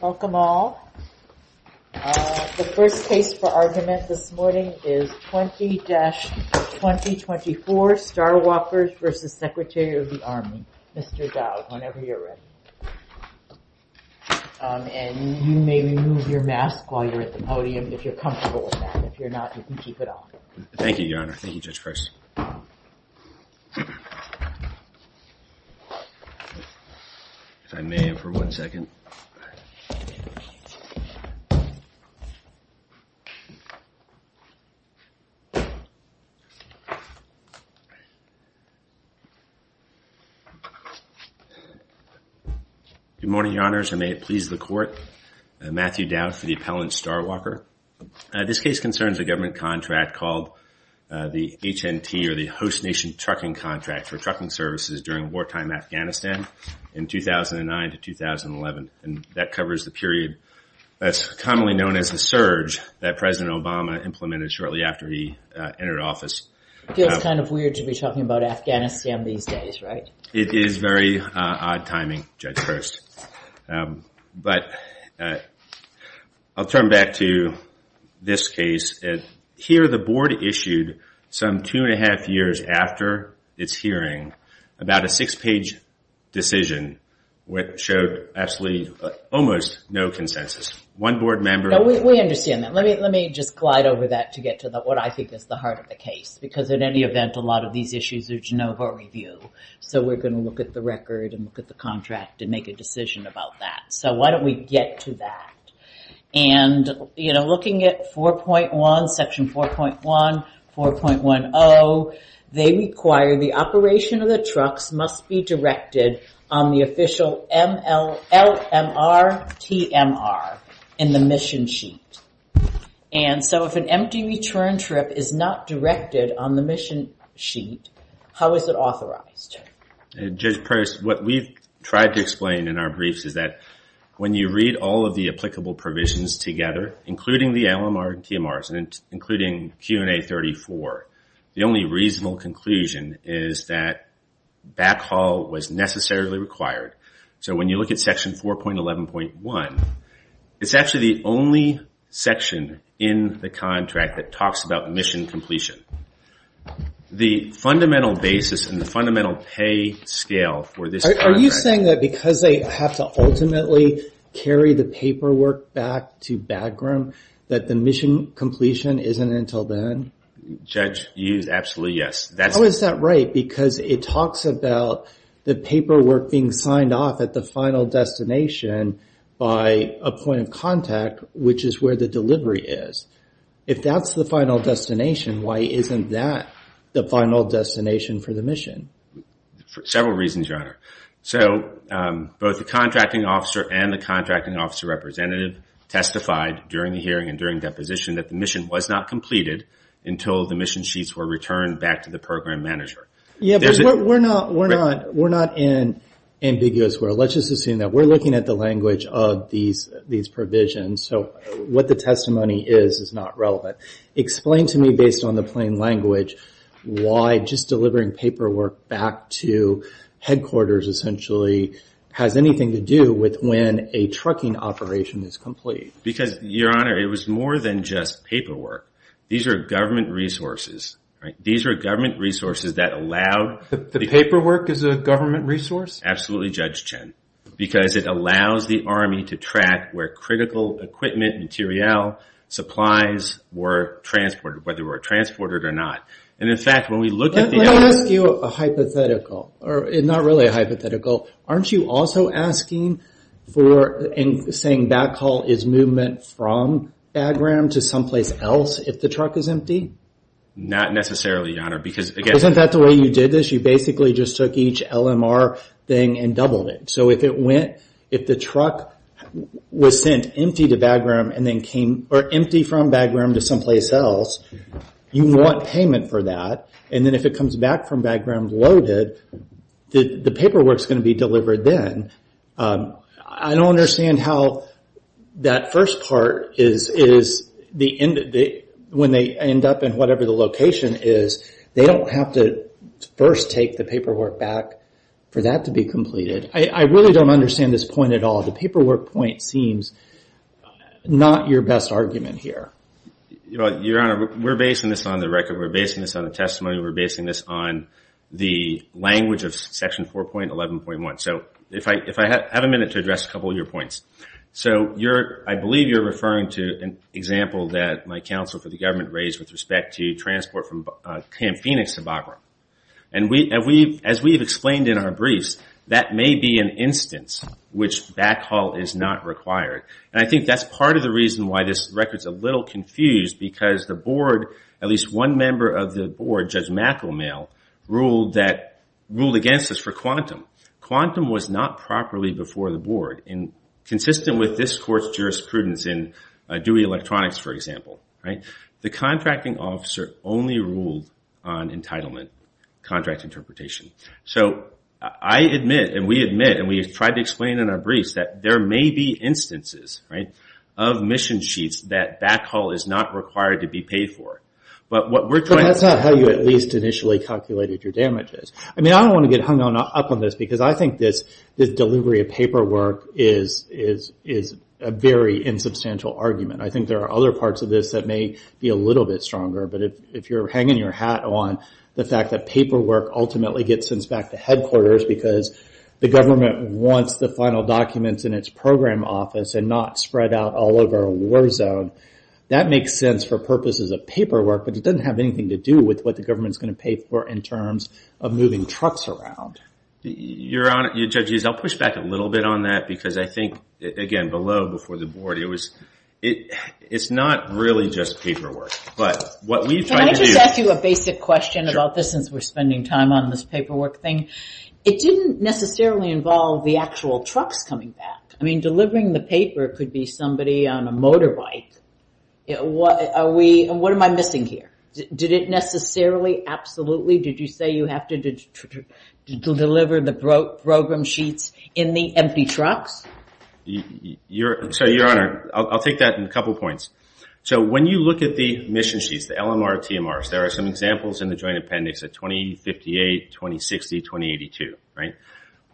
Welcome all. The first case for argument this morning is 20-2024 Starwalkers v. Secretary of the Army. Mr. Dowd, whenever you're ready. And you may remove your mask while you're at the podium if you're comfortable with that. If you're not, you can keep it on. Thank you, Your Honor. Thank you. Good morning, Your Honors, and may it please the Court. Matthew Dowd for the appellant Starwalker. This case concerns a government contract called the HNT or the Host Nation Trucking Contract for and that covers the period that's commonly known as the surge that President Obama implemented shortly after he entered office. It's kind of weird to be talking about Afghanistan these days, right? It is very odd timing, Judge Post. But I'll turn back to this case. Here the board issued some two and a half years after its hearing about a six-page decision which showed absolutely almost no consensus. One board member... No, we understand that. Let me just glide over that to get to what I think is the heart of the case. Because in any event, a lot of these issues are Genova review. So we're going to look at the record and look at the contract and make a decision about that. So why don't we get to that? And, you know, looking at Section 4.1, 4.10, they require the operation of the trucks must be directed on the official LMRTMR in the mission sheet. And so if an empty return trip is not directed on the mission sheet, how is it authorized? Judge Post, what we've tried to explain in our briefs is that when you read all of the applicable provisions together, including the LMRTMRs and including Q&A 34, the only reasonable conclusion is that backhaul was necessarily required. So when you look at Section 4.11.1, it's actually the only section in the contract that talks about mission completion. The fundamental basis and the fundamental pay scale for this contract... Are you saying that because they have to ultimately carry the paperwork back to Bagram, that the mission completion isn't until then? Judge, you use absolutely yes. How is that right? Because it talks about the paperwork being signed off at the final destination by a point of contact, which is where the delivery is. If that's the final destination, why isn't that the final destination for the mission? For several reasons, Your Honor. So both the contracting officer and the contracting officer representative testified during the hearing and during deposition that the mission was not completed until the mission sheets were returned back to the program manager. Yeah, but we're not in ambiguous where. Let's just assume that we're looking at the language of these provisions. What the testimony is, is not relevant. Explain to me, based on the plain language, why just delivering paperwork back to headquarters essentially has anything to do with when a trucking operation is complete. Because, Your Honor, it was more than just paperwork. These are government resources. These are government resources that allow... The paperwork is a government resource? Absolutely, Judge Chen. Because it allows the Army to track where critical equipment, materiel, supplies were transported, whether they were transported or not. And in fact, when we look at the... Let me ask you a hypothetical, or not really a hypothetical. Aren't you also asking for and saying backhaul is movement from Bagram to someplace else if the truck is empty? Not necessarily, Your Honor, because again... Isn't that the way you did this? You basically just took each LMR thing and doubled it. So if the truck was sent empty from Bagram to someplace else, you want payment for that. And then if it comes back from Bagram loaded, the paperwork's going to be delivered then. I don't understand how that first part is... When they end up in whatever the location is, they don't have to first take the paperwork back for that to be completed. I really don't understand this point at all. The paperwork point seems not your best argument here. Your Honor, we're basing this on the record. We're basing this on the testimony. We're basing this on the language of Section 4.11.1. So if I have a minute to address a couple of your points. So I believe you're referring to an example that my counsel for the government raised with respect to transport from Camp Phoenix to Bagram. And as we've explained in our briefs, that may be an instance which backhaul is not required. And I think that's part of the reason why this record's a little confused. Because the board, at least one member of the board, Judge McElmail, ruled against this for quantum. Quantum was not properly before the board. And consistent with this court's jurisprudence in Dewey Electronics, for example. The contracting officer only ruled on entitlement. Contract interpretation. So I admit, and we admit, and we've tried to explain in our briefs, that there may be instances of mission sheets that backhaul is not required to be paid for. But what we're trying to... But that's not how you at least initially calculated your damages. I mean, I don't want to get hung up on this. Because I think this delivery of paperwork is a very insubstantial argument. I think there are other parts of this that may be a little bit stronger. But if you're hanging your hat on the fact that paperwork ultimately gets sent back to headquarters because the government wants the final documents in its program office and not spread out all over a war zone, that makes sense for purposes of paperwork. But it doesn't have anything to do with what the government's going to pay for in terms of moving trucks around. Your Honor, your judges, I'll push back a little bit on that. Because I think, again, below, before the board, it was... It's not really just paperwork. But what we've tried to do... Can I just ask you a basic question about this, since we're spending time on this paperwork thing? It didn't necessarily involve the actual trucks coming back. I mean, delivering the paper could be somebody on a motorbike. What am I missing here? Did it necessarily, absolutely? Did you say you have to deliver the program sheets in the empty trucks? So, your Honor, I'll take that in a couple points. So, when you look at the mission sheets, the LMR, TMRs, there are some examples in the Joint Appendix of 2058, 2060, 2082, right?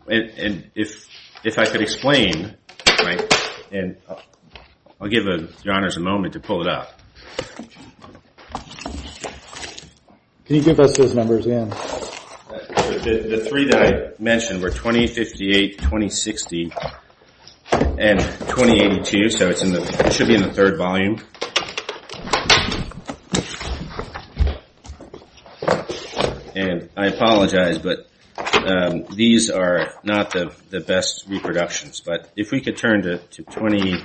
And if I could explain, and I'll give your Honors a moment to pull it up. Can you give us those numbers again? The three that I mentioned were 2058, 2060, and 2082. So, it should be in the third volume. And I apologize, but these are not the best reproductions. But if we could turn to 20...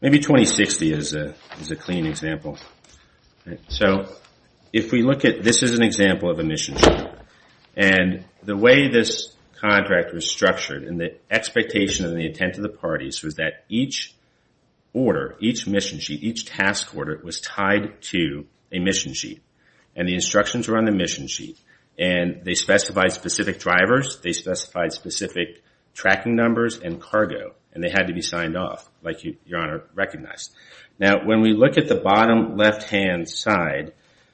Maybe 2060 is a clean example. So, if we look at... This is an example of a mission sheet. And the way this contract was structured, and the expectation and the intent of the parties was that each order, each mission sheet, each task order was tied to a mission sheet. And the instructions were on the mission sheet. And they specified specific drivers. They specified specific tracking numbers and cargo. And they had to be signed off, like your Honor recognized. Now, when we look at the bottom left-hand side,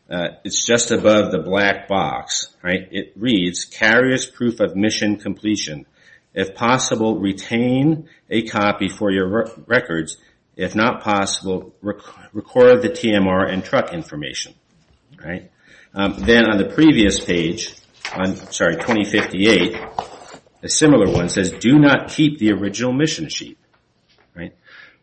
it's just above the black box, right? It reads, carrier's proof of mission completion. If possible, retain a copy for your records. If not possible, record the TMR and truck information. Then on the previous page, I'm sorry, 2058, a similar one says, do not keep the original mission sheet.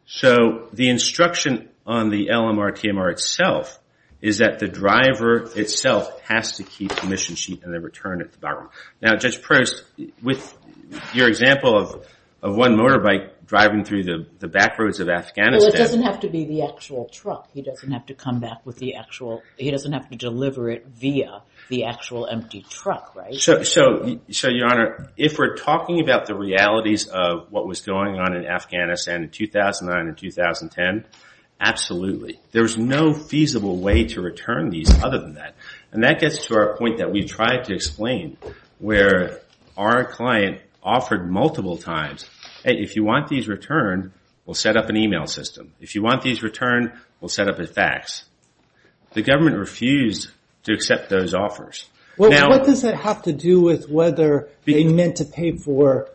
So, the instruction on the LMR TMR itself is that the driver itself has to keep the mission sheet and the return at the bottom. Now, Judge Prost, with your example of one motorbike driving through the back roads of Afghanistan. Well, it doesn't have to be the actual truck. He doesn't have to come back with the actual, he doesn't have to deliver it via the actual empty truck, right? So, your Honor, if we're talking about the realities of what was going on in Afghanistan in 2009 and 2010, absolutely. There's no feasible way to return these other than that. And that gets to our point that we tried to explain, where our client offered multiple times, hey, if you want these returned, we'll set up an email system. If you want these returned, we'll set up a fax. The government refused to accept those offers. Well, what does that have to do with whether they meant to pay for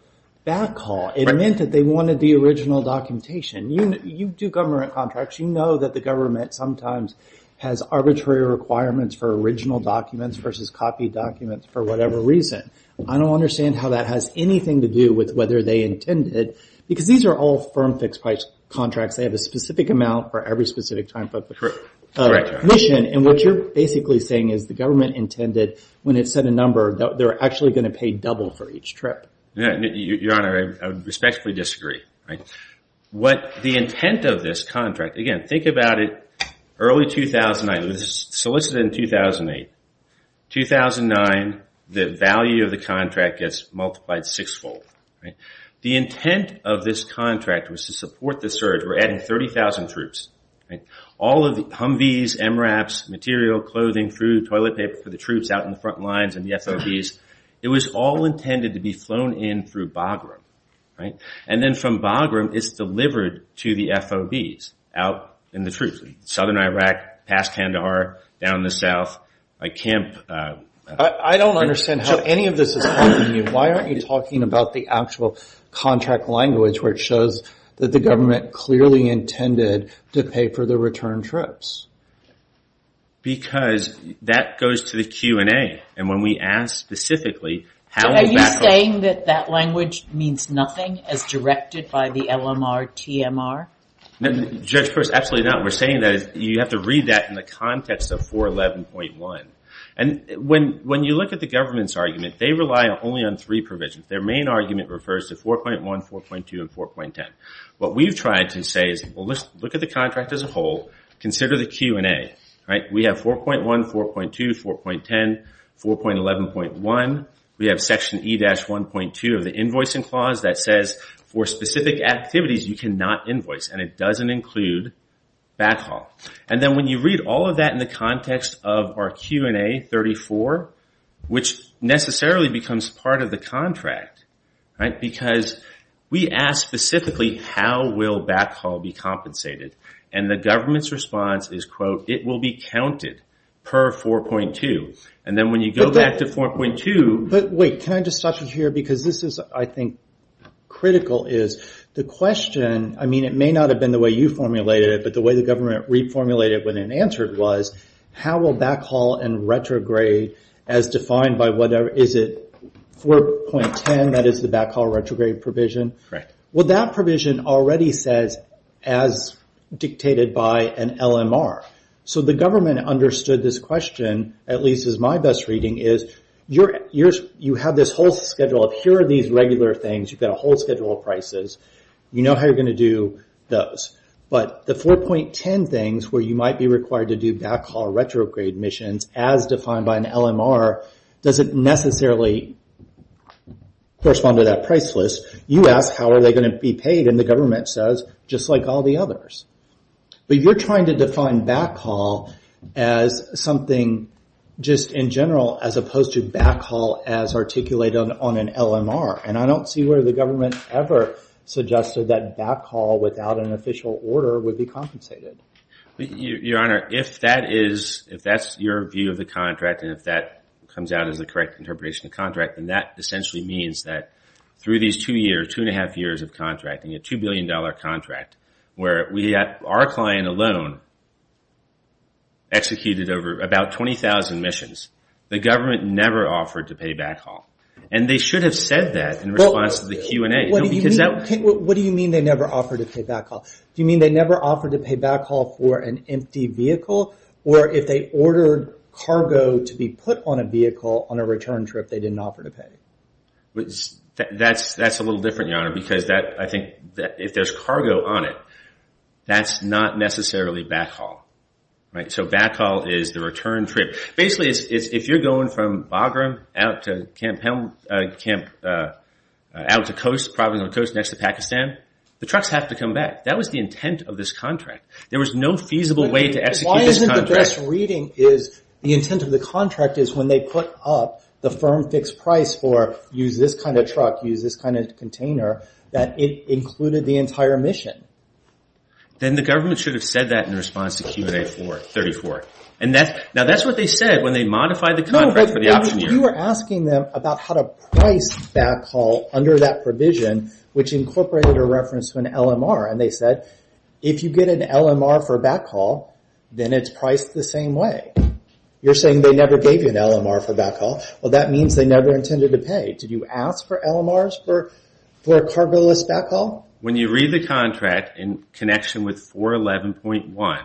backhaul? It meant that they wanted the original documentation. You do government contracts. You know that the government sometimes has arbitrary requirements for original documents versus copy documents for whatever reason. I don't understand how that has anything to do with whether they intended, because these are all firm fixed price contracts. They have a specific amount for every specific time. But the mission, and what you're basically saying is the government intended when it set a number, they're actually going to pay double for each trip. Your Honor, I respectfully disagree. What the intent of this contract, again, think about it, early 2009. This was solicited in 2008. 2009, the value of the contract gets multiplied six-fold. The intent of this contract was to support the surge. We're adding 30,000 troops. All of the Humvees, MRAPs, material, clothing, food, toilet paper for the troops out in the front lines and the FOBs, it was all intended to be flown in through Bagram. And then from Bagram, it's delivered to the FOBs out in the troops. Southern Iraq, past Kandahar, down the south, like Kemp. I don't understand how any of this is helping you. Why aren't you talking about the actual contract language where it shows that the government clearly intended to pay for the return trips? Because that goes to the Q&A. And when we ask specifically, how would that help? Are you saying that that language means nothing as directed by the LMR-TMR? Judge, of course, absolutely not. We're saying that you have to read that in the context of 411.1. And when you look at the government's argument, they rely only on three provisions. Their main argument refers to 4.1, 4.2, and 4.10. What we've tried to say is, well, look at the contract as a whole, consider the Q&A, right? We have 4.1, 4.2, 4.10, 4.11.1. We have section E-1.2 of the invoicing clause that says, for specific activities, you cannot invoice. And it doesn't include backhaul. And then when you read all of that in the context of our Q&A 34, which necessarily becomes part of the contract, right? Because we ask specifically, how will backhaul be compensated? And the government's response is, quote, it will be counted per 4.2. And then when you go back to 4.2. But wait, can I just stop you here? Because this is, I think, critical. The question, I mean, it may not have been the way you formulated it, but the way the government reformulated it when it answered was, how will backhaul and retrograde as defined by whatever, is it 4.10? That is the backhaul retrograde provision. Well, that provision already says, as dictated by an LMR. So the government understood this question, at least as my best reading, is you have this whole schedule of, here are these regular things. You've got a whole schedule of prices. You know how you're going to do those. But the 4.10 things, where you might be required to do backhaul retrograde missions, as defined by an LMR, doesn't necessarily correspond to that price list. You ask, how are they going to be paid? And the government says, just like all the others. But you're trying to define backhaul as something just in general, as opposed to backhaul as articulated on an LMR. And I don't see where the government ever suggested that backhaul without an official order would be compensated. Your Honor, if that's your view of the contract, and if that comes out as the correct interpretation of contract, then that essentially means that through these two years, two and a half years of contracting, a $2 billion contract, where we had our client alone executed over about 20,000 missions, the government never offered to pay backhaul. And they should have said that in response to the Q&A. What do you mean they never offered to pay backhaul? Do you mean they never offered to pay backhaul for an empty vehicle? Or if they ordered cargo to be put on a vehicle on a return trip, they didn't offer to pay? That's a little different, Your Honor, because I think if there's cargo on it, that's not necessarily backhaul. So backhaul is the return trip. Basically, if you're going from Bagram out to Camp Helm, out to coast, probably on the coast next to Pakistan, the trucks have to come back. That was the intent of this contract. There was no feasible way to execute this contract. Why isn't the best reading is the intent of the contract is when they put up the firm fixed price for, use this kind of truck, use this kind of container, that it included the entire mission. Then the government should have said that in response to Q&A 34. Now that's what they said when they modified the contract for the option year. You were asking them about how to price backhaul under that provision, which incorporated a reference to an LMR. And they said, if you get an LMR for backhaul, then it's priced the same way. You're saying they never gave you an LMR for backhaul. Well, that means they never intended to pay. Did you ask for LMRs for a cargo-less backhaul? When you read the contract in connection with 411.1,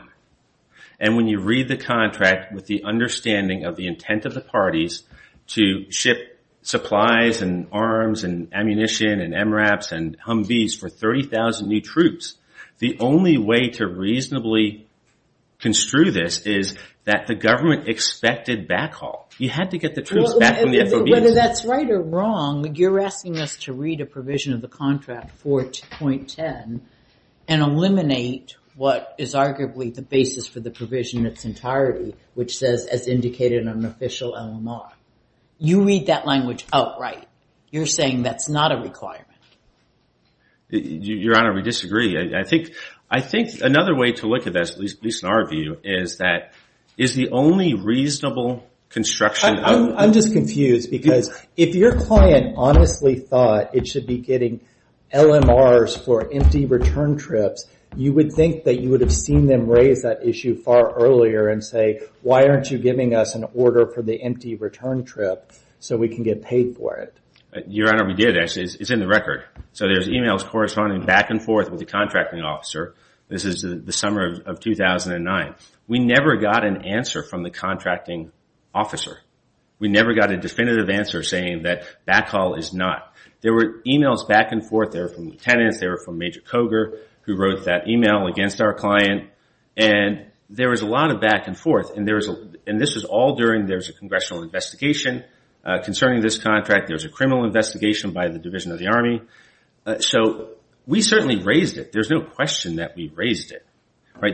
and when you read the contract with the understanding of the intent of the parties to ship supplies and arms and ammunition and MRAPs and Humvees for 30,000 new troops, the only way to reasonably construe this is that the government expected backhaul. You had to get the troops back from the FOBs. Whether that's right or wrong, you're of the contract for 2.10, and eliminate what is arguably the basis for the provision in its entirety, which says, as indicated on an official LMR. You read that language outright. You're saying that's not a requirement. Your Honor, we disagree. I think another way to look at this, at least in our view, is that is the only reasonable construction of a- I'm just confused. Because if your client honestly thought it should be getting LMRs for empty return trips, you would think that you would have seen them raise that issue far earlier and say, why aren't you giving us an order for the empty return trip so we can get paid for it? Your Honor, we did. Actually, it's in the record. So there's emails corresponding back and forth with the contracting officer. This is the summer of 2009. We never got an answer from the contracting officer. We never got a definitive answer saying that backhaul is not. There were emails back and forth. They were from lieutenants. They were from Major Coger, who wrote that email against our client. And there was a lot of back and forth. And this was all during there's a congressional investigation concerning this contract. There's a criminal investigation by the Division of the Army. So we certainly raised it. There's no question that we raised it.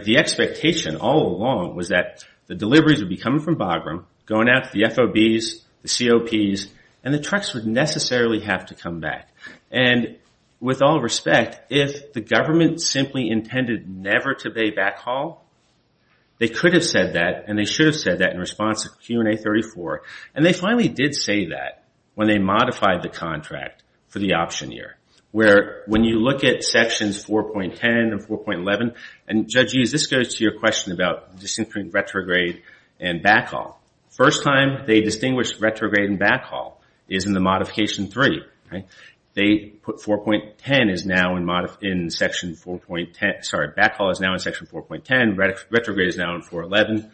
The expectation all along was that the deliveries would be coming from Bagram, going out to the FOBs, the COPs, and the trucks would necessarily have to come back. And with all respect, if the government simply intended never to pay backhaul, they could have said that, and they should have said that in response to Q&A 34. And they finally did say that when they modified the contract for the option year, where when you look at sections 4.10 and 4.11, and Judge Hughes, this goes to your question about First time they distinguished retrograde and backhaul is in the modification three. They put 4.10 is now in section 4.10. Sorry, backhaul is now in section 4.10. Retrograde is now in 4.11.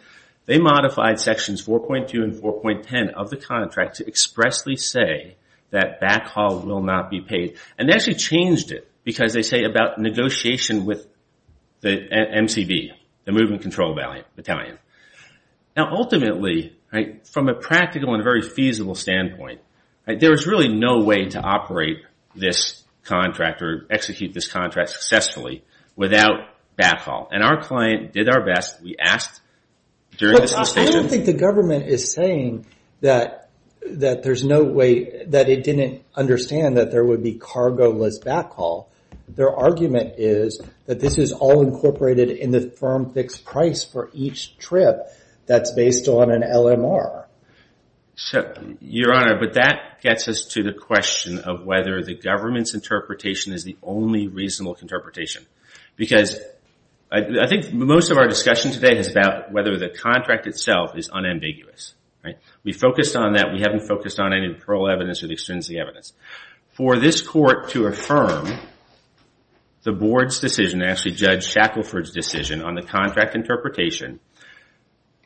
They modified sections 4.2 and 4.10 of the contract to expressly say that backhaul will not be paid. And they actually changed it because they say about negotiation with the MCV, the Movement Control Battalion. Now ultimately, from a practical and very feasible standpoint, there is really no way to operate this contract or execute this contract successfully without backhaul. And our client did our best. We asked during the suspension. But I don't think the government is saying that there's no way that it didn't understand that there would be cargo-less backhaul. Their argument is that this is all incorporated in the firm fixed price for each trip that's based on an LMR. So, Your Honor, but that gets us to the question of whether the government's interpretation is the only reasonable interpretation. Because I think most of our discussion today is about whether the contract itself is unambiguous. We focused on that. We haven't focused on any parole evidence or the extrinsic evidence. For this court to affirm the board's decision, actually Judge Shackelford's decision, on the contract interpretation,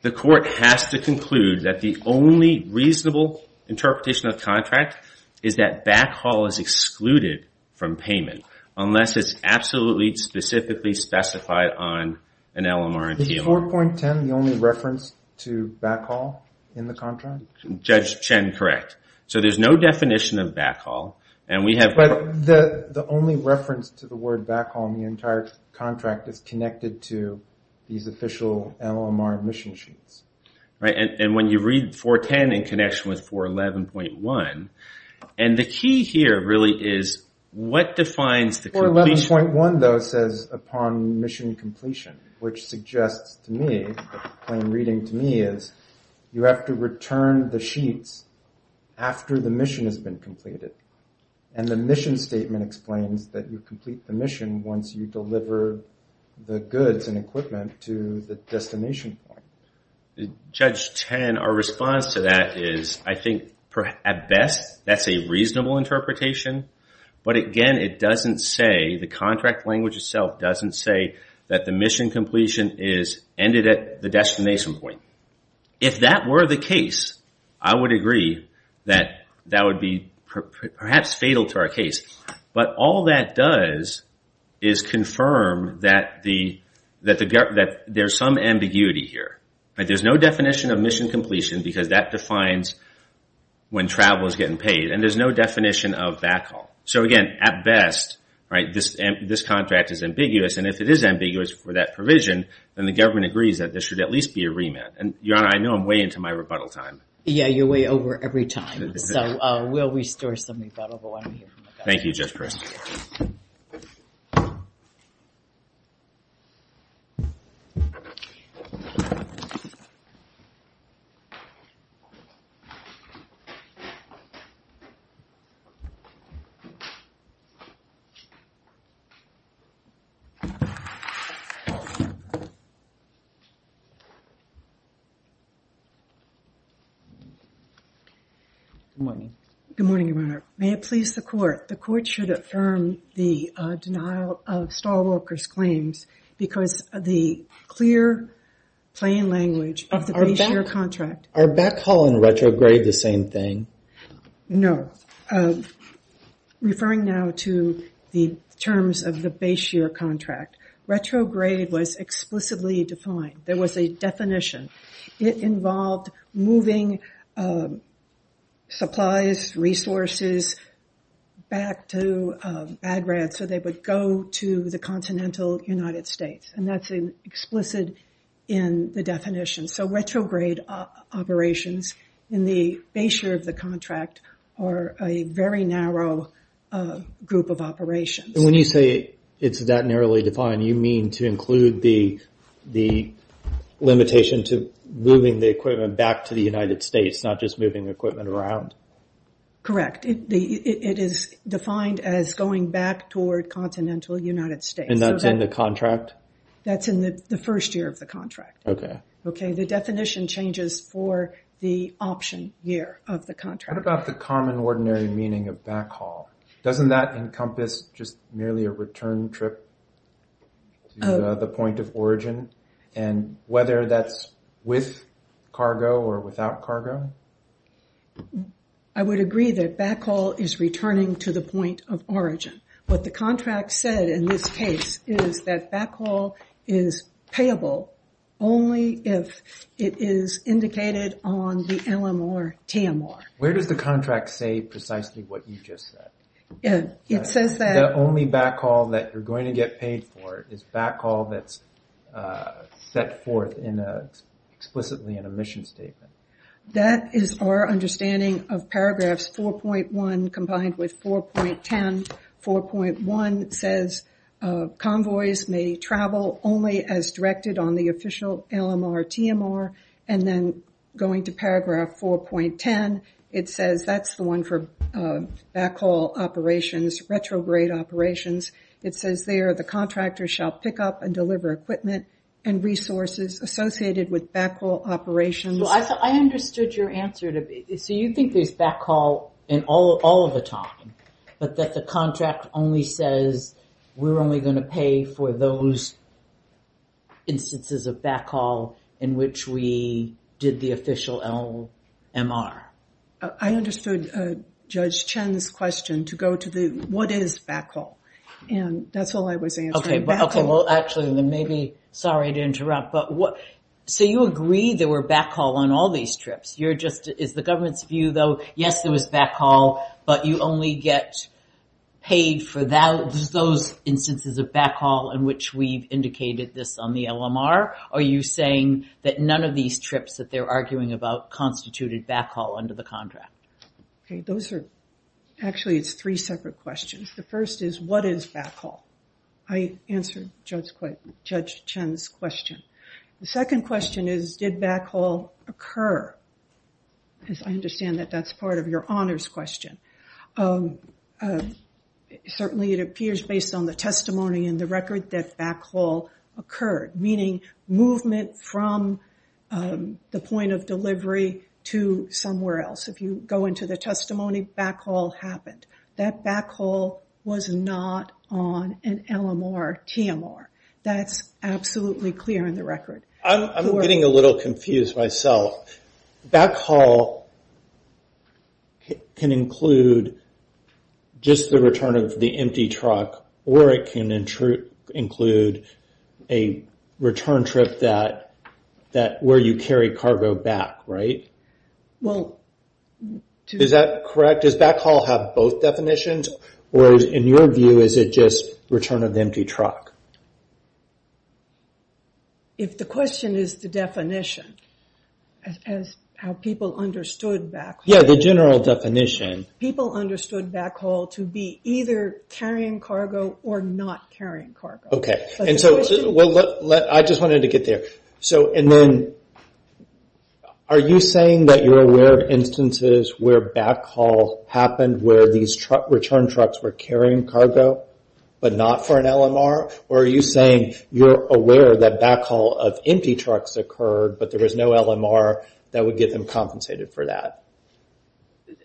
the court has to conclude that the only reasonable interpretation of the contract is that backhaul is excluded from payment unless it's absolutely, specifically specified on an LMR and TMR. Is 4.10 the only reference to backhaul in the contract? Judge Chen, correct. So there's no definition of backhaul. And we have, But the only reference to the word backhaul in the entire contract is connected to these official LMR mission sheets. Right, and when you read 4.10 in connection with 4.11.1, and the key here really is what defines the completion? 4.11.1, though, says upon mission completion, which suggests to me, plain reading to me is, you have to return the sheets after the mission has been completed. And the mission statement explains that you complete the mission once you deliver the goods and equipment to the destination point. Judge Chen, our response to that is, I think, at best, that's a reasonable interpretation. But again, it doesn't say, the contract language itself doesn't say that the mission completion is ended at the destination point. If that were the case, I would agree that that would be perhaps fatal to our case. But all that does is confirm that there's some ambiguity here. There's no definition of mission completion because that defines when travel is getting paid. And there's no definition of backhaul. So again, at best, this contract is ambiguous. And if it is ambiguous for that provision, then the government agrees that there should at least be a remit. And Your Honor, I know I'm way into my rebuttal time. Yeah, you're way over every time. So we'll restore some rebuttal, Thank you, Judge Chris. Good morning. May it please the court. The court should affirm the denial of stall workers' claims because the clear, plain language of the base year contract. Are backhaul and retrograde the same thing? No. Referring now to the terms of the base year contract, retrograde was explicitly defined. There was a definition. It involved moving supplies, resources, back to Bagrad so they would go to the continental United States. And that's explicit in the definition. So retrograde operations in the base year of the contract are a very narrow group of operations. And when you say it's that narrowly defined, you mean to include the limitation to moving the equipment back to the United States, not just moving equipment around? Correct. It is defined as going back toward continental United States. And that's in the contract? That's in the first year of the contract. Okay. Okay, the definition changes for the option year of the contract. What about the common, ordinary meaning of backhaul? Doesn't that encompass just merely a return trip to the point of origin? And whether that's with cargo or without cargo? I would agree that backhaul is returning to the point of origin. What the contract said in this case is that backhaul is payable only if it is indicated on the LM or TMR. Where does the contract say precisely what you just said? It says that- The only backhaul that you're going to get paid for is backhaul that's set forth in a explicitly in a mission statement. That is our understanding of paragraphs 4.1 combined with 4.10. 4.1 says convoys may travel only as directed on the official LM or TMR. And then going to paragraph 4.10, it says that's the one for backhaul operations, retrograde operations. It says there the contractor shall pick up and deliver equipment and resources associated with backhaul operations. I understood your answer. So you think there's backhaul all of the time, but that the contract only says we're only going to pay for those instances of backhaul in which we did the official LMR. I understood Judge Chen's question to go to the what is backhaul? And that's all I was answering. Okay, well, actually, then maybe, sorry to interrupt. So you agree there were backhaul on all these trips. Is the government's view though, yes, there was backhaul, but you only get paid for those instances of backhaul in which we've indicated this on the LMR? Are you saying that none of these trips that they're arguing about constituted backhaul under the contract? Okay, those are actually it's three separate questions. The first is what is backhaul? I answered Judge Chen's question. The second question is, did backhaul occur? Because I understand that that's part of your honors question. Certainly it appears based on the testimony and the record that backhaul occurred, meaning movement from the point of delivery to somewhere else. If you go into the testimony, backhaul happened. That backhaul was not on an LMR, TMR. That's absolutely clear in the record. I'm getting a little confused myself. Backhaul can include just the return of the empty truck, or it can include a return trip that where you carry cargo back, right? Is that correct? Does backhaul have both definitions? Or in your view, is it just return of the empty truck? If the question is the definition, as how people understood backhaul. Yeah, the general definition. People understood backhaul to be either carrying cargo or not carrying cargo. Okay, and so I just wanted to get there. So and then, are you saying that you're aware of instances where backhaul happened, where these return trucks were carrying cargo, but not for an LMR? Or are you saying you're aware that backhaul of empty trucks occurred, but there was no LMR that would get them compensated for that?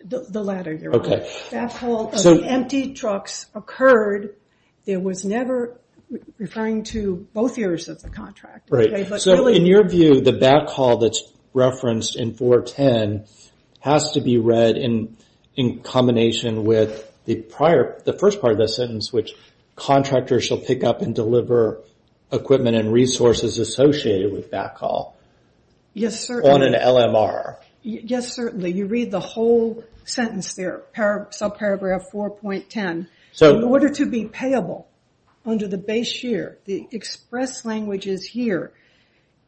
The latter, your honor. Backhaul of the empty trucks occurred. There was never, referring to both years of the contract. Right, so in your view, the backhaul that's referenced in 410 has to be read in combination with the first part of the sentence, which contractors shall pick up and deliver equipment and resources associated with backhaul. Yes, certainly. On an LMR. Yes, certainly. You read the whole sentence there, subparagraph 4.10. So in order to be payable under the base year, the express language is here.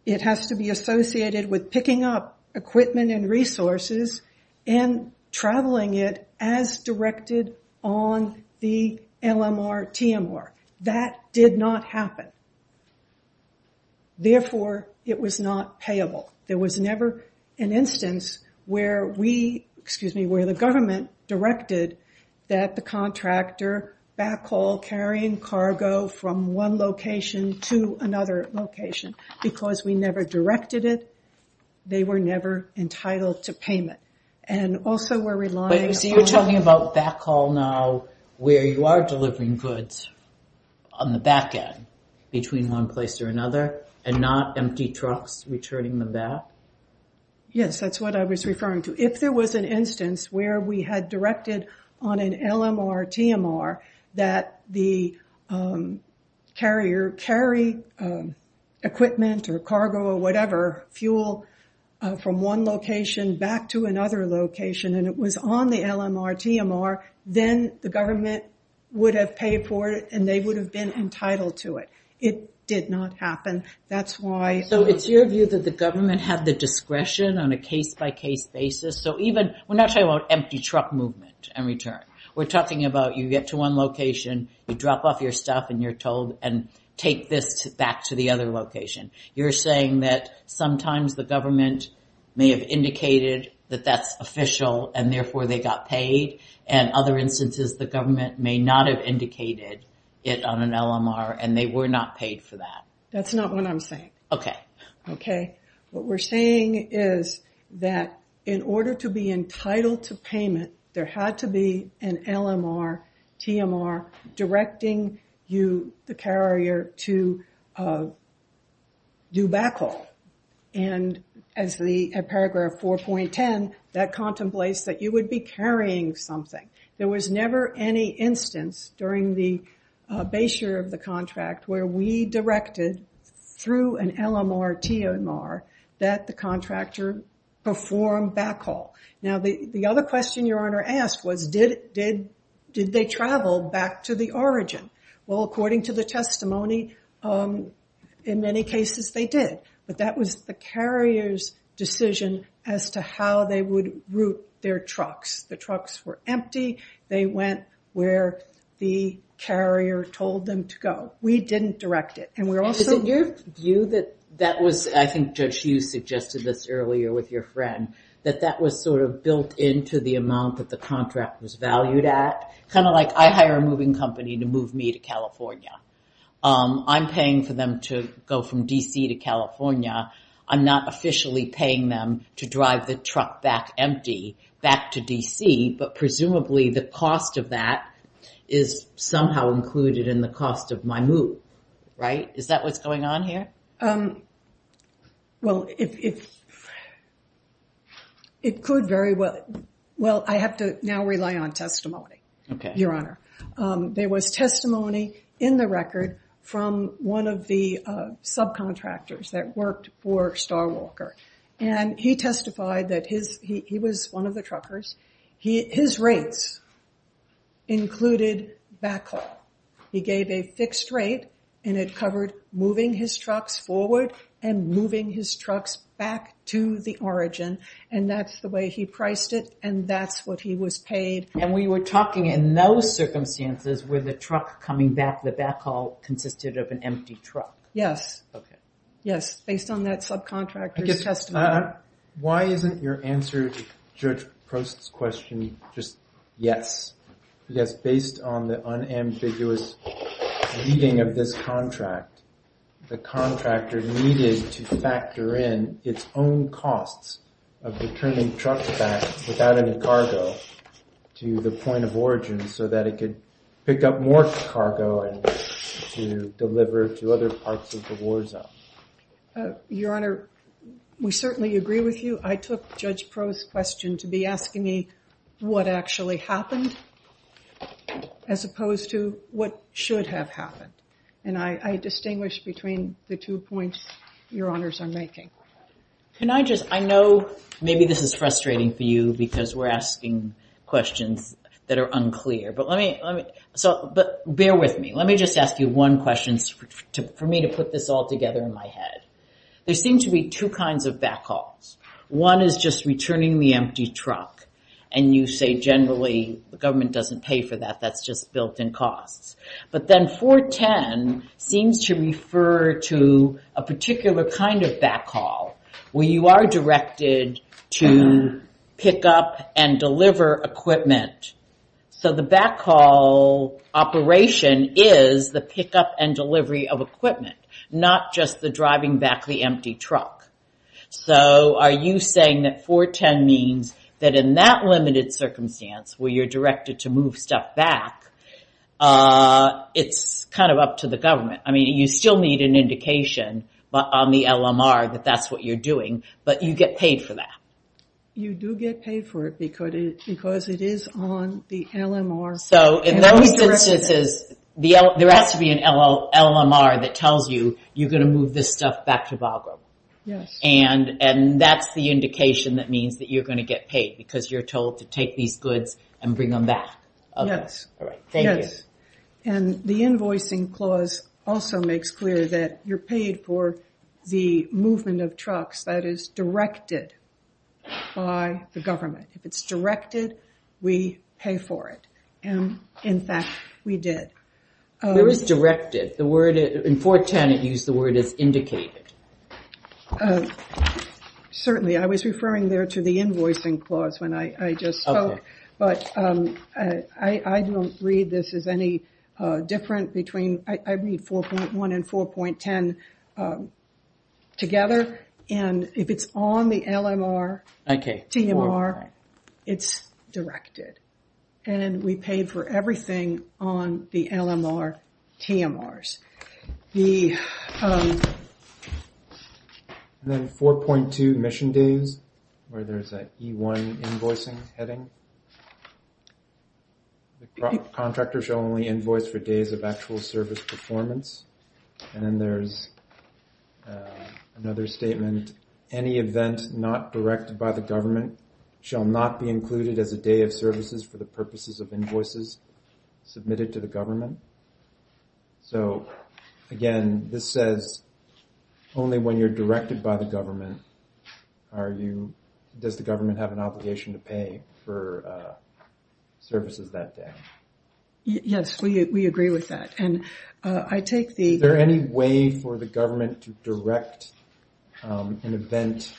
It has to be associated with picking up equipment and resources and traveling it as directed on the LMR-TMR. That did not happen. Therefore, it was not payable. There was never an instance where we, excuse me, where the government directed that the contractor backhaul carrying cargo from one location to another location because we never directed it. They were never entitled to payment. And also, we're relying on- So you're talking about backhaul now where you are delivering goods on the back end between one place or another and not empty trucks returning them back? Yes, that's what I was referring to. If there was an instance where we had directed on an LMR-TMR that the carrier would carry equipment or cargo or whatever, fuel from one location back to another location and it was on the LMR-TMR, then the government would have paid for it and they would have been entitled to it. It did not happen. That's why- So it's your view that the government had the discretion on a case-by-case basis? So even, we're not talking about empty truck movement in return. We're talking about you get to one location, you drop off your stuff and you're told, and take this back to the other location. You're saying that sometimes the government may have indicated that that's official and therefore they got paid and other instances the government may not have indicated it on an LMR and they were not paid for that. That's not what I'm saying. Okay. Okay. What we're saying is that in order to be entitled to payment, there had to be an LMR-TMR directing you, the carrier, to do backhaul. And as the paragraph 4.10, that contemplates that you would be carrying something. There was never any instance during the base year of the contract where we directed through an LMR-TMR that the contractor perform backhaul. Now, the other question your Honor asked was, did they travel back to the origin? Well, according to the testimony, in many cases they did. But that was the carrier's decision as to how they would route their trucks. The trucks were empty, they went where the carrier told them to go. We didn't direct it. And we're also- Is it your view that that was, I think Judge Hughes suggested this earlier with your friend, that that was sort of built into the amount that the contract was valued at? Kind of like I hire a moving company to move me to California. I'm paying for them to go from DC to California. I'm not officially paying them to drive the truck back empty back to DC, but presumably the cost of that is somehow included in the cost of my move, right? Is that what's going on here? Well, it could very well. Well, I have to now rely on testimony, Your Honor. There was testimony in the record from one of the subcontractors that worked for Starwalker. And he testified that he was one of the truckers. His rates included backhaul. He gave a fixed rate, and it covered moving his trucks forward and moving his trucks back to the origin. And that's the way he priced it, and that's what he was paid. And we were talking in those circumstances where the truck coming back, the backhaul consisted of an empty truck. Yes. Yes, based on that subcontractor's testimony. Why isn't your answer to Judge Post's question just yes? Yes, based on the unambiguous reading of this contract, the contractor needed to factor in its own costs of returning trucks back without any cargo to the point of origin so that it could pick up more cargo and to deliver to other parts of the war zone. Your Honor, we certainly agree with you. I took Judge Post's question to be asking me what actually happened as opposed to what should have happened. And I distinguish between the two points your Honors are making. Can I just, I know maybe this is frustrating for you because we're asking questions that are unclear, but bear with me. Let me just ask you one question for me to put this all together in my head. There seem to be two kinds of backhauls. One is just returning the empty truck, and you say generally the government doesn't pay for that, that's just built in costs. But then 410 seems to refer to a particular kind of backhaul where you are directed to pick up and deliver equipment. So the backhaul operation is the pickup and delivery of equipment, not just the driving back the empty truck. So are you saying that 410 means that in that limited circumstance where you're directed to move stuff back, it's kind of up to the government? I mean, you still need an indication, but on the LMR that that's what you're doing, but you get paid for that. You do get paid for it because it is on the LMR. So in those instances, there has to be an LMR that tells you you're gonna move this stuff back to Bagram. And that's the indication that means that you're gonna get paid because you're told to take these goods and bring them back. Yes. All right, thank you. And the invoicing clause also makes clear that you're paid for the movement of trucks that is directed by the government. If it's directed, we pay for it. And in fact, we did. Where is directed? In 410, it used the word as indicated. Certainly, I was referring there to the invoicing clause when I just spoke. But I don't read this as any different between, I read 4.1 and 4.10 together. And if it's on the LMR, TMR, it's directed. And we paid for everything on the LMR, TMRs. And then 4.2, mission days, where there's an E1 invoicing heading. The contractor shall only invoice for days of actual service performance. And then there's another statement. Any event not directed by the government shall not be included as a day of services for the purposes of invoices submitted to the government. So again, this says only when you're directed by the government are you, does the government have an obligation to pay for services that day? Yes, we agree with that. And I take the- Is there any way for the government to direct an event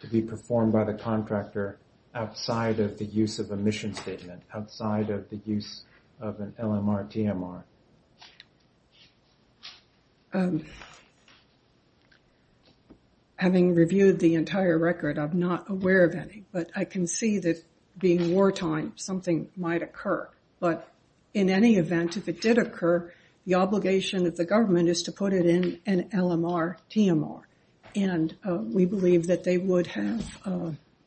to be performed by the contractor outside of the use of a mission statement, outside of the use of an LMR, TMR? Having reviewed the entire record, I'm not aware of any. But I can see that being wartime, something might occur. But in any event, if it did occur, the obligation of the government is to put it in an LMR, TMR. And we believe that they would have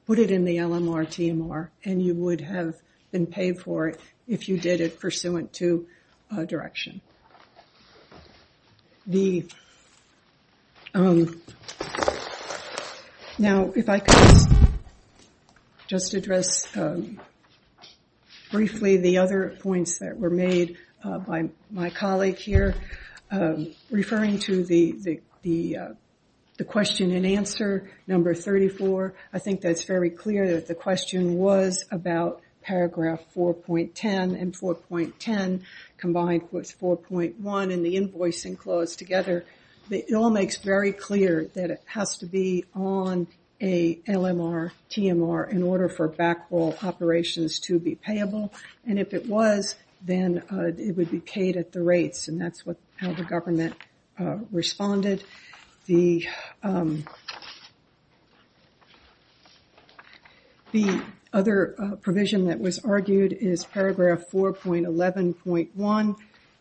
put it in the LMR, TMR, and you would have been paid for it if you did it pursuant to direction. Okay. Now, if I could just address, briefly, the other points that were made by my colleague here. Referring to the question and answer, number 34, I think that's very clear that the question was about paragraph 4.10, and 4.10 combined with 4.1 and the invoice enclosed together. It all makes very clear that it has to be on a LMR, TMR in order for backhaul operations to be payable. And if it was, then it would be paid at the rates, and that's how the government responded. The other provision that was argued is paragraph 4.11.1.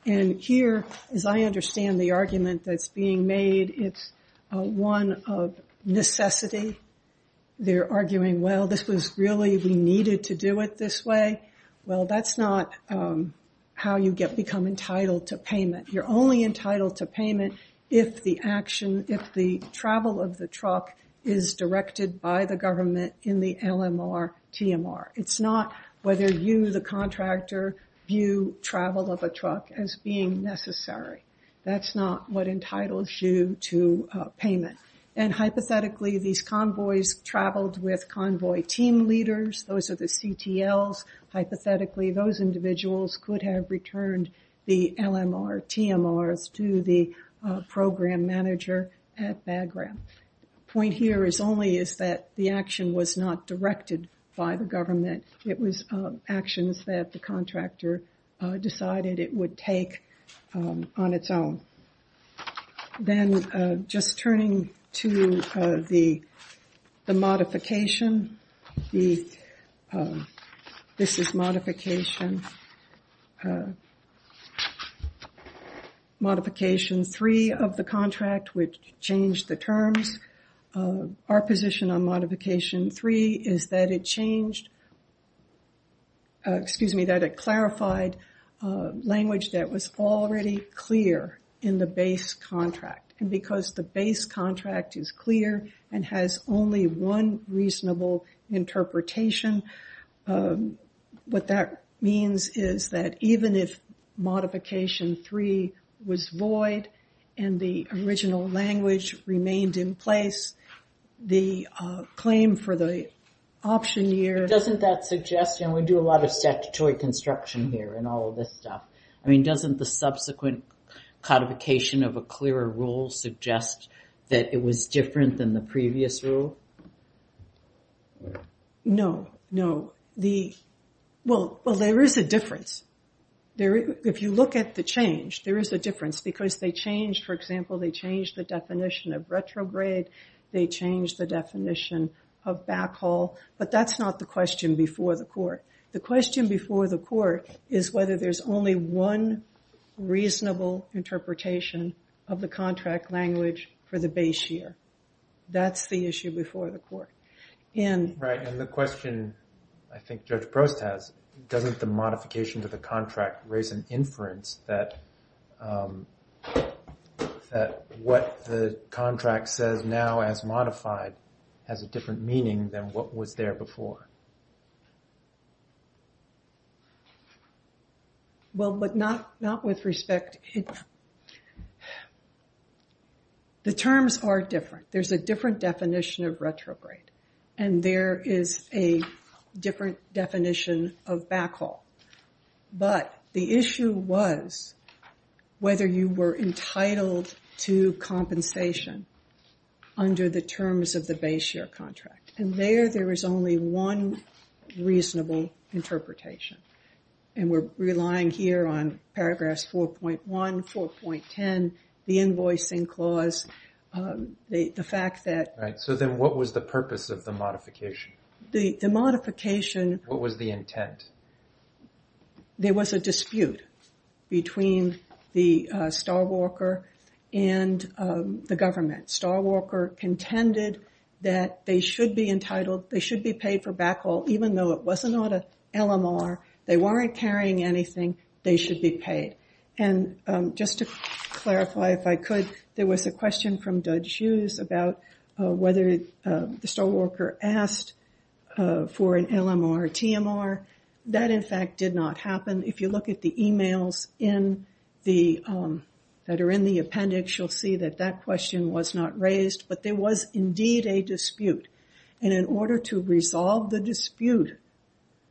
And here, as I understand the argument that's being made, it's one of necessity. They're arguing, well, this was really, we needed to do it this way. Well, that's not how you become entitled to payment. You're only entitled to payment if the action, if the travel of the truck is directed by the government in the LMR, TMR. It's not whether you, the contractor, view travel of a truck as being necessary. That's not what entitles you to payment. And hypothetically, these convoys traveled with convoy team leaders. Those are the CTLs. Hypothetically, those individuals could have returned the LMR, TMRs to the program manager at Bagram. Point here is only is that the action was not directed by the government. It was actions that the contractor decided it would take on its own. Then, just turning to the modification. This is modification. Modification three of the contract, which changed the terms. Our position on modification three is that it changed, excuse me, that it clarified language that was already clear in the base contract. And because the base contract is clear and has only one reasonable interpretation, what that means is that even if modification three was void and the original language remained in place, the claim for the option year. Doesn't that suggest, and we do a lot of statutory construction here in all of this stuff. I mean, doesn't the subsequent codification of a clearer rule suggest that it was different than the previous rule? No, no. Well, there is a difference. If you look at the change, there is a difference because they changed, for example, they changed the definition of retrograde they changed the definition of backhaul. But that's not the question before the court. The question before the court is whether there's only one reasonable interpretation of the contract language for the base year. That's the issue before the court. And- Right, and the question I think Judge Prost has, doesn't the modification to the contract raise an inference that what the contract says now as modified has a different meaning than what was there before? Well, but not with respect. The terms are different. There's a different definition of retrograde. And there is a different definition of backhaul. But the issue was whether you were entitled to compensation under the terms of the base year contract. And there, there is only one reasonable interpretation. And we're relying here on paragraphs 4.1, 4.10, the invoicing clause, the fact that- Right, so then what was the purpose of the modification? The modification- What was the intent? There was a dispute between the Starwalker and the government. Starwalker contended that they should be entitled, they should be paid for backhaul, even though it was not an LMR, they weren't carrying anything, they should be paid. And just to clarify if I could, there was a question from Judge Hughes about whether the Starwalker asked for an LMR or TMR. That, in fact, did not happen. If you look at the emails that are in the appendix, you'll see that that question was not raised. But there was indeed a dispute. And in order to resolve the dispute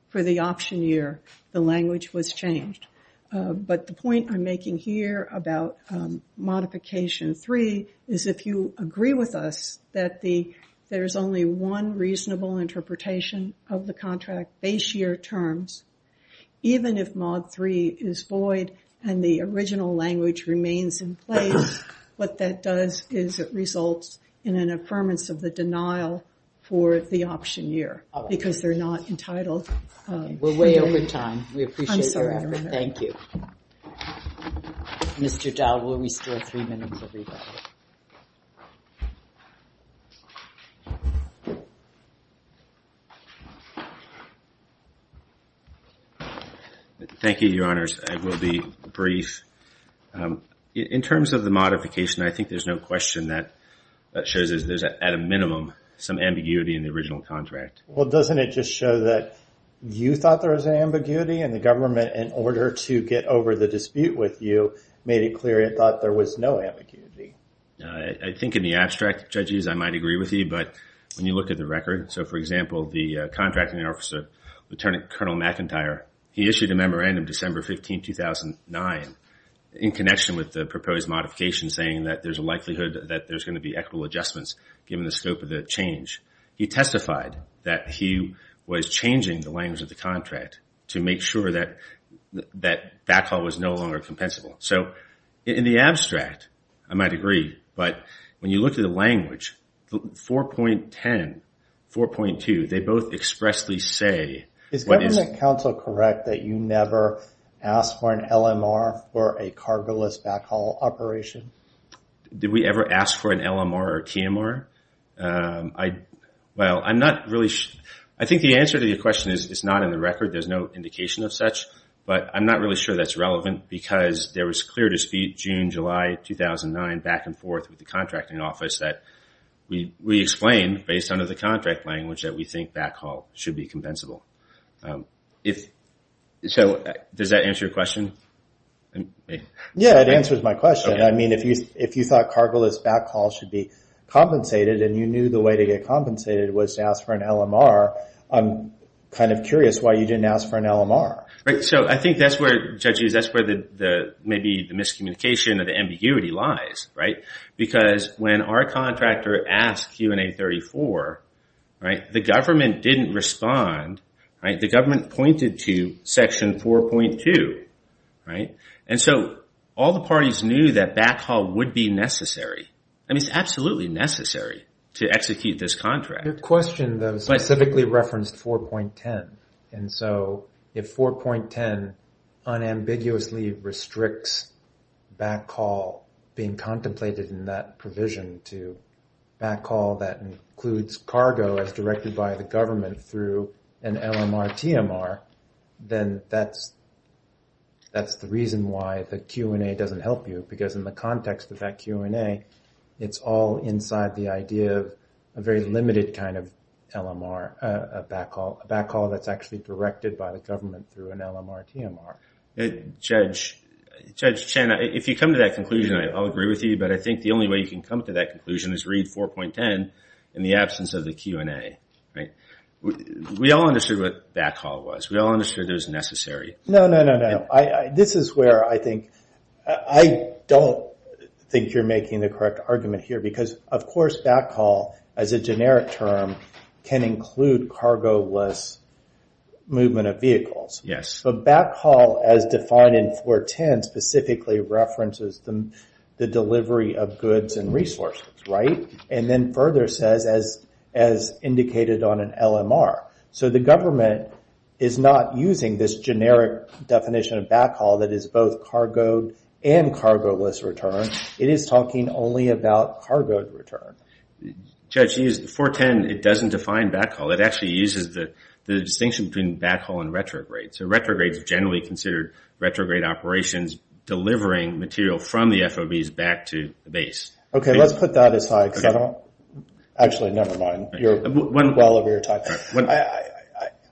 for the option year, the language was changed. But the point I'm making here about modification three is if you agree with us that there's only one reasonable interpretation of the contract base year terms, even if mod three is void and the original language remains in place, what that does is it results in an affirmance of the denial for the option year because they're not entitled. We're way over time. We appreciate your effort. Thank you. Mr. Dowd, will we still have three minutes? Thank you, Your Honors. I will be brief. In terms of the modification, I think there's no question that shows that there's at a minimum some ambiguity in the original contract. Well, doesn't it just show that you thought there was an ambiguity and the government, in order to get over the dispute with you, made it clear it thought there was no ambiguity? I think in the abstract, Judges, I might agree with you. But when you look at the record, so for example, the original contract, contracting officer, Lieutenant Colonel McIntyre, he issued a memorandum December 15, 2009, in connection with the proposed modification saying that there's a likelihood that there's gonna be equitable adjustments given the scope of the change. He testified that he was changing the language of the contract to make sure that backhaul was no longer compensable. So in the abstract, I might agree. But when you look at the language, 4.10, 4.2, they both expressly say. Is government counsel correct that you never asked for an LMR for a cargo-less backhaul operation? Did we ever ask for an LMR or TMR? Well, I'm not really sure. I think the answer to your question is it's not in the record. There's no indication of such. But I'm not really sure that's relevant because there was clear dispute June, July, 2009, back and forth with the contracting office that we explained based on the contract language that we think backhaul should be compensable. So does that answer your question? Yeah, it answers my question. I mean, if you thought cargo-less backhaul should be compensated and you knew the way to get compensated was to ask for an LMR, I'm kind of curious why you didn't ask for an LMR. So I think that's where, judges, that's where maybe the miscommunication or the ambiguity lies, right? Because when our contractor asked Q&A 34, right, the government didn't respond, right? The government pointed to Section 4.2, right? And so all the parties knew that backhaul would be necessary. I mean, it's absolutely necessary to execute this contract. Your question, though, specifically referenced 4.10. And so if 4.10 unambiguously restricts backhaul being contemplated in that provision to backhaul that includes cargo as directed by the government through an LMR-TMR, then that's the reason why the Q&A doesn't help you because in the context of that Q&A, it's all inside the idea of a very limited kind of LMR, a backhaul that's actually directed by the government through an LMR-TMR. Judge Chen, if you come to that conclusion, I'll agree with you, but I think the only way you can come to that conclusion is read 4.10 in the absence of the Q&A, right? We all understood what backhaul was. We all understood it was necessary. No, no, no, no, no. This is where I think, I don't think you're making the correct argument here because of course backhaul, as a generic term, can include cargo-less movement of vehicles. Yes. But backhaul as defined in 4.10 specifically references the delivery of goods and resources, right? And then further says, as indicated on an LMR, so the government is not using this generic definition of backhaul that is both cargo and cargo-less return. It is talking only about cargo return. Judge, 4.10, it doesn't define backhaul. It actually uses the distinction between backhaul and retrograde. So retrograde is generally considered retrograde operations delivering material from the FOBs back to the base. Okay, let's put that aside. Okay. Actually, nevermind. You're well over your time. What?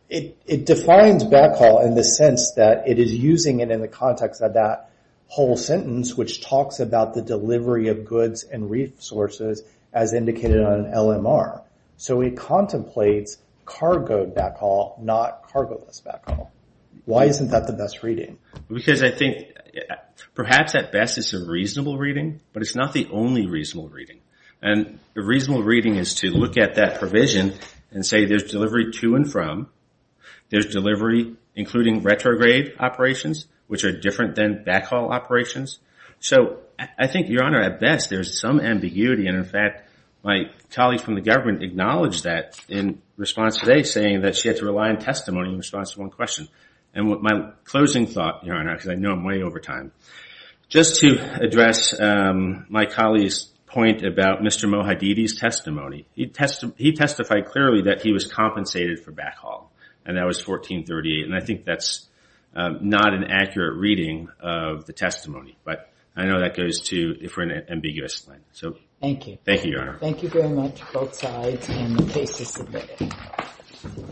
It defines backhaul in the sense that it is using it in the context of that whole sentence, which talks about the delivery of goods and resources, as indicated on an LMR. So it contemplates cargo backhaul, not cargo-less backhaul. Why isn't that the best reading? Because I think perhaps at best it's a reasonable reading, but it's not the only reasonable reading. And a reasonable reading is to look at that provision and say there's delivery to and from, there's delivery including retrograde operations, which are different than backhaul operations. So I think, Your Honor, at best, there's some ambiguity. And in fact, my colleagues from the government acknowledged that in response today, saying that she had to rely on testimony in response to one question. And my closing thought, Your Honor, because I know I'm way over time, just to address my colleague's point about Mr. Mohadidi's testimony, he testified clearly that he was compensated for backhaul. And that was 1438. And I think that's not an accurate reading of the testimony. But I know that goes to, if we're in an ambiguous line. So, thank you. Thank you, Your Honor. Thank you very much, both sides, and the case is submitted.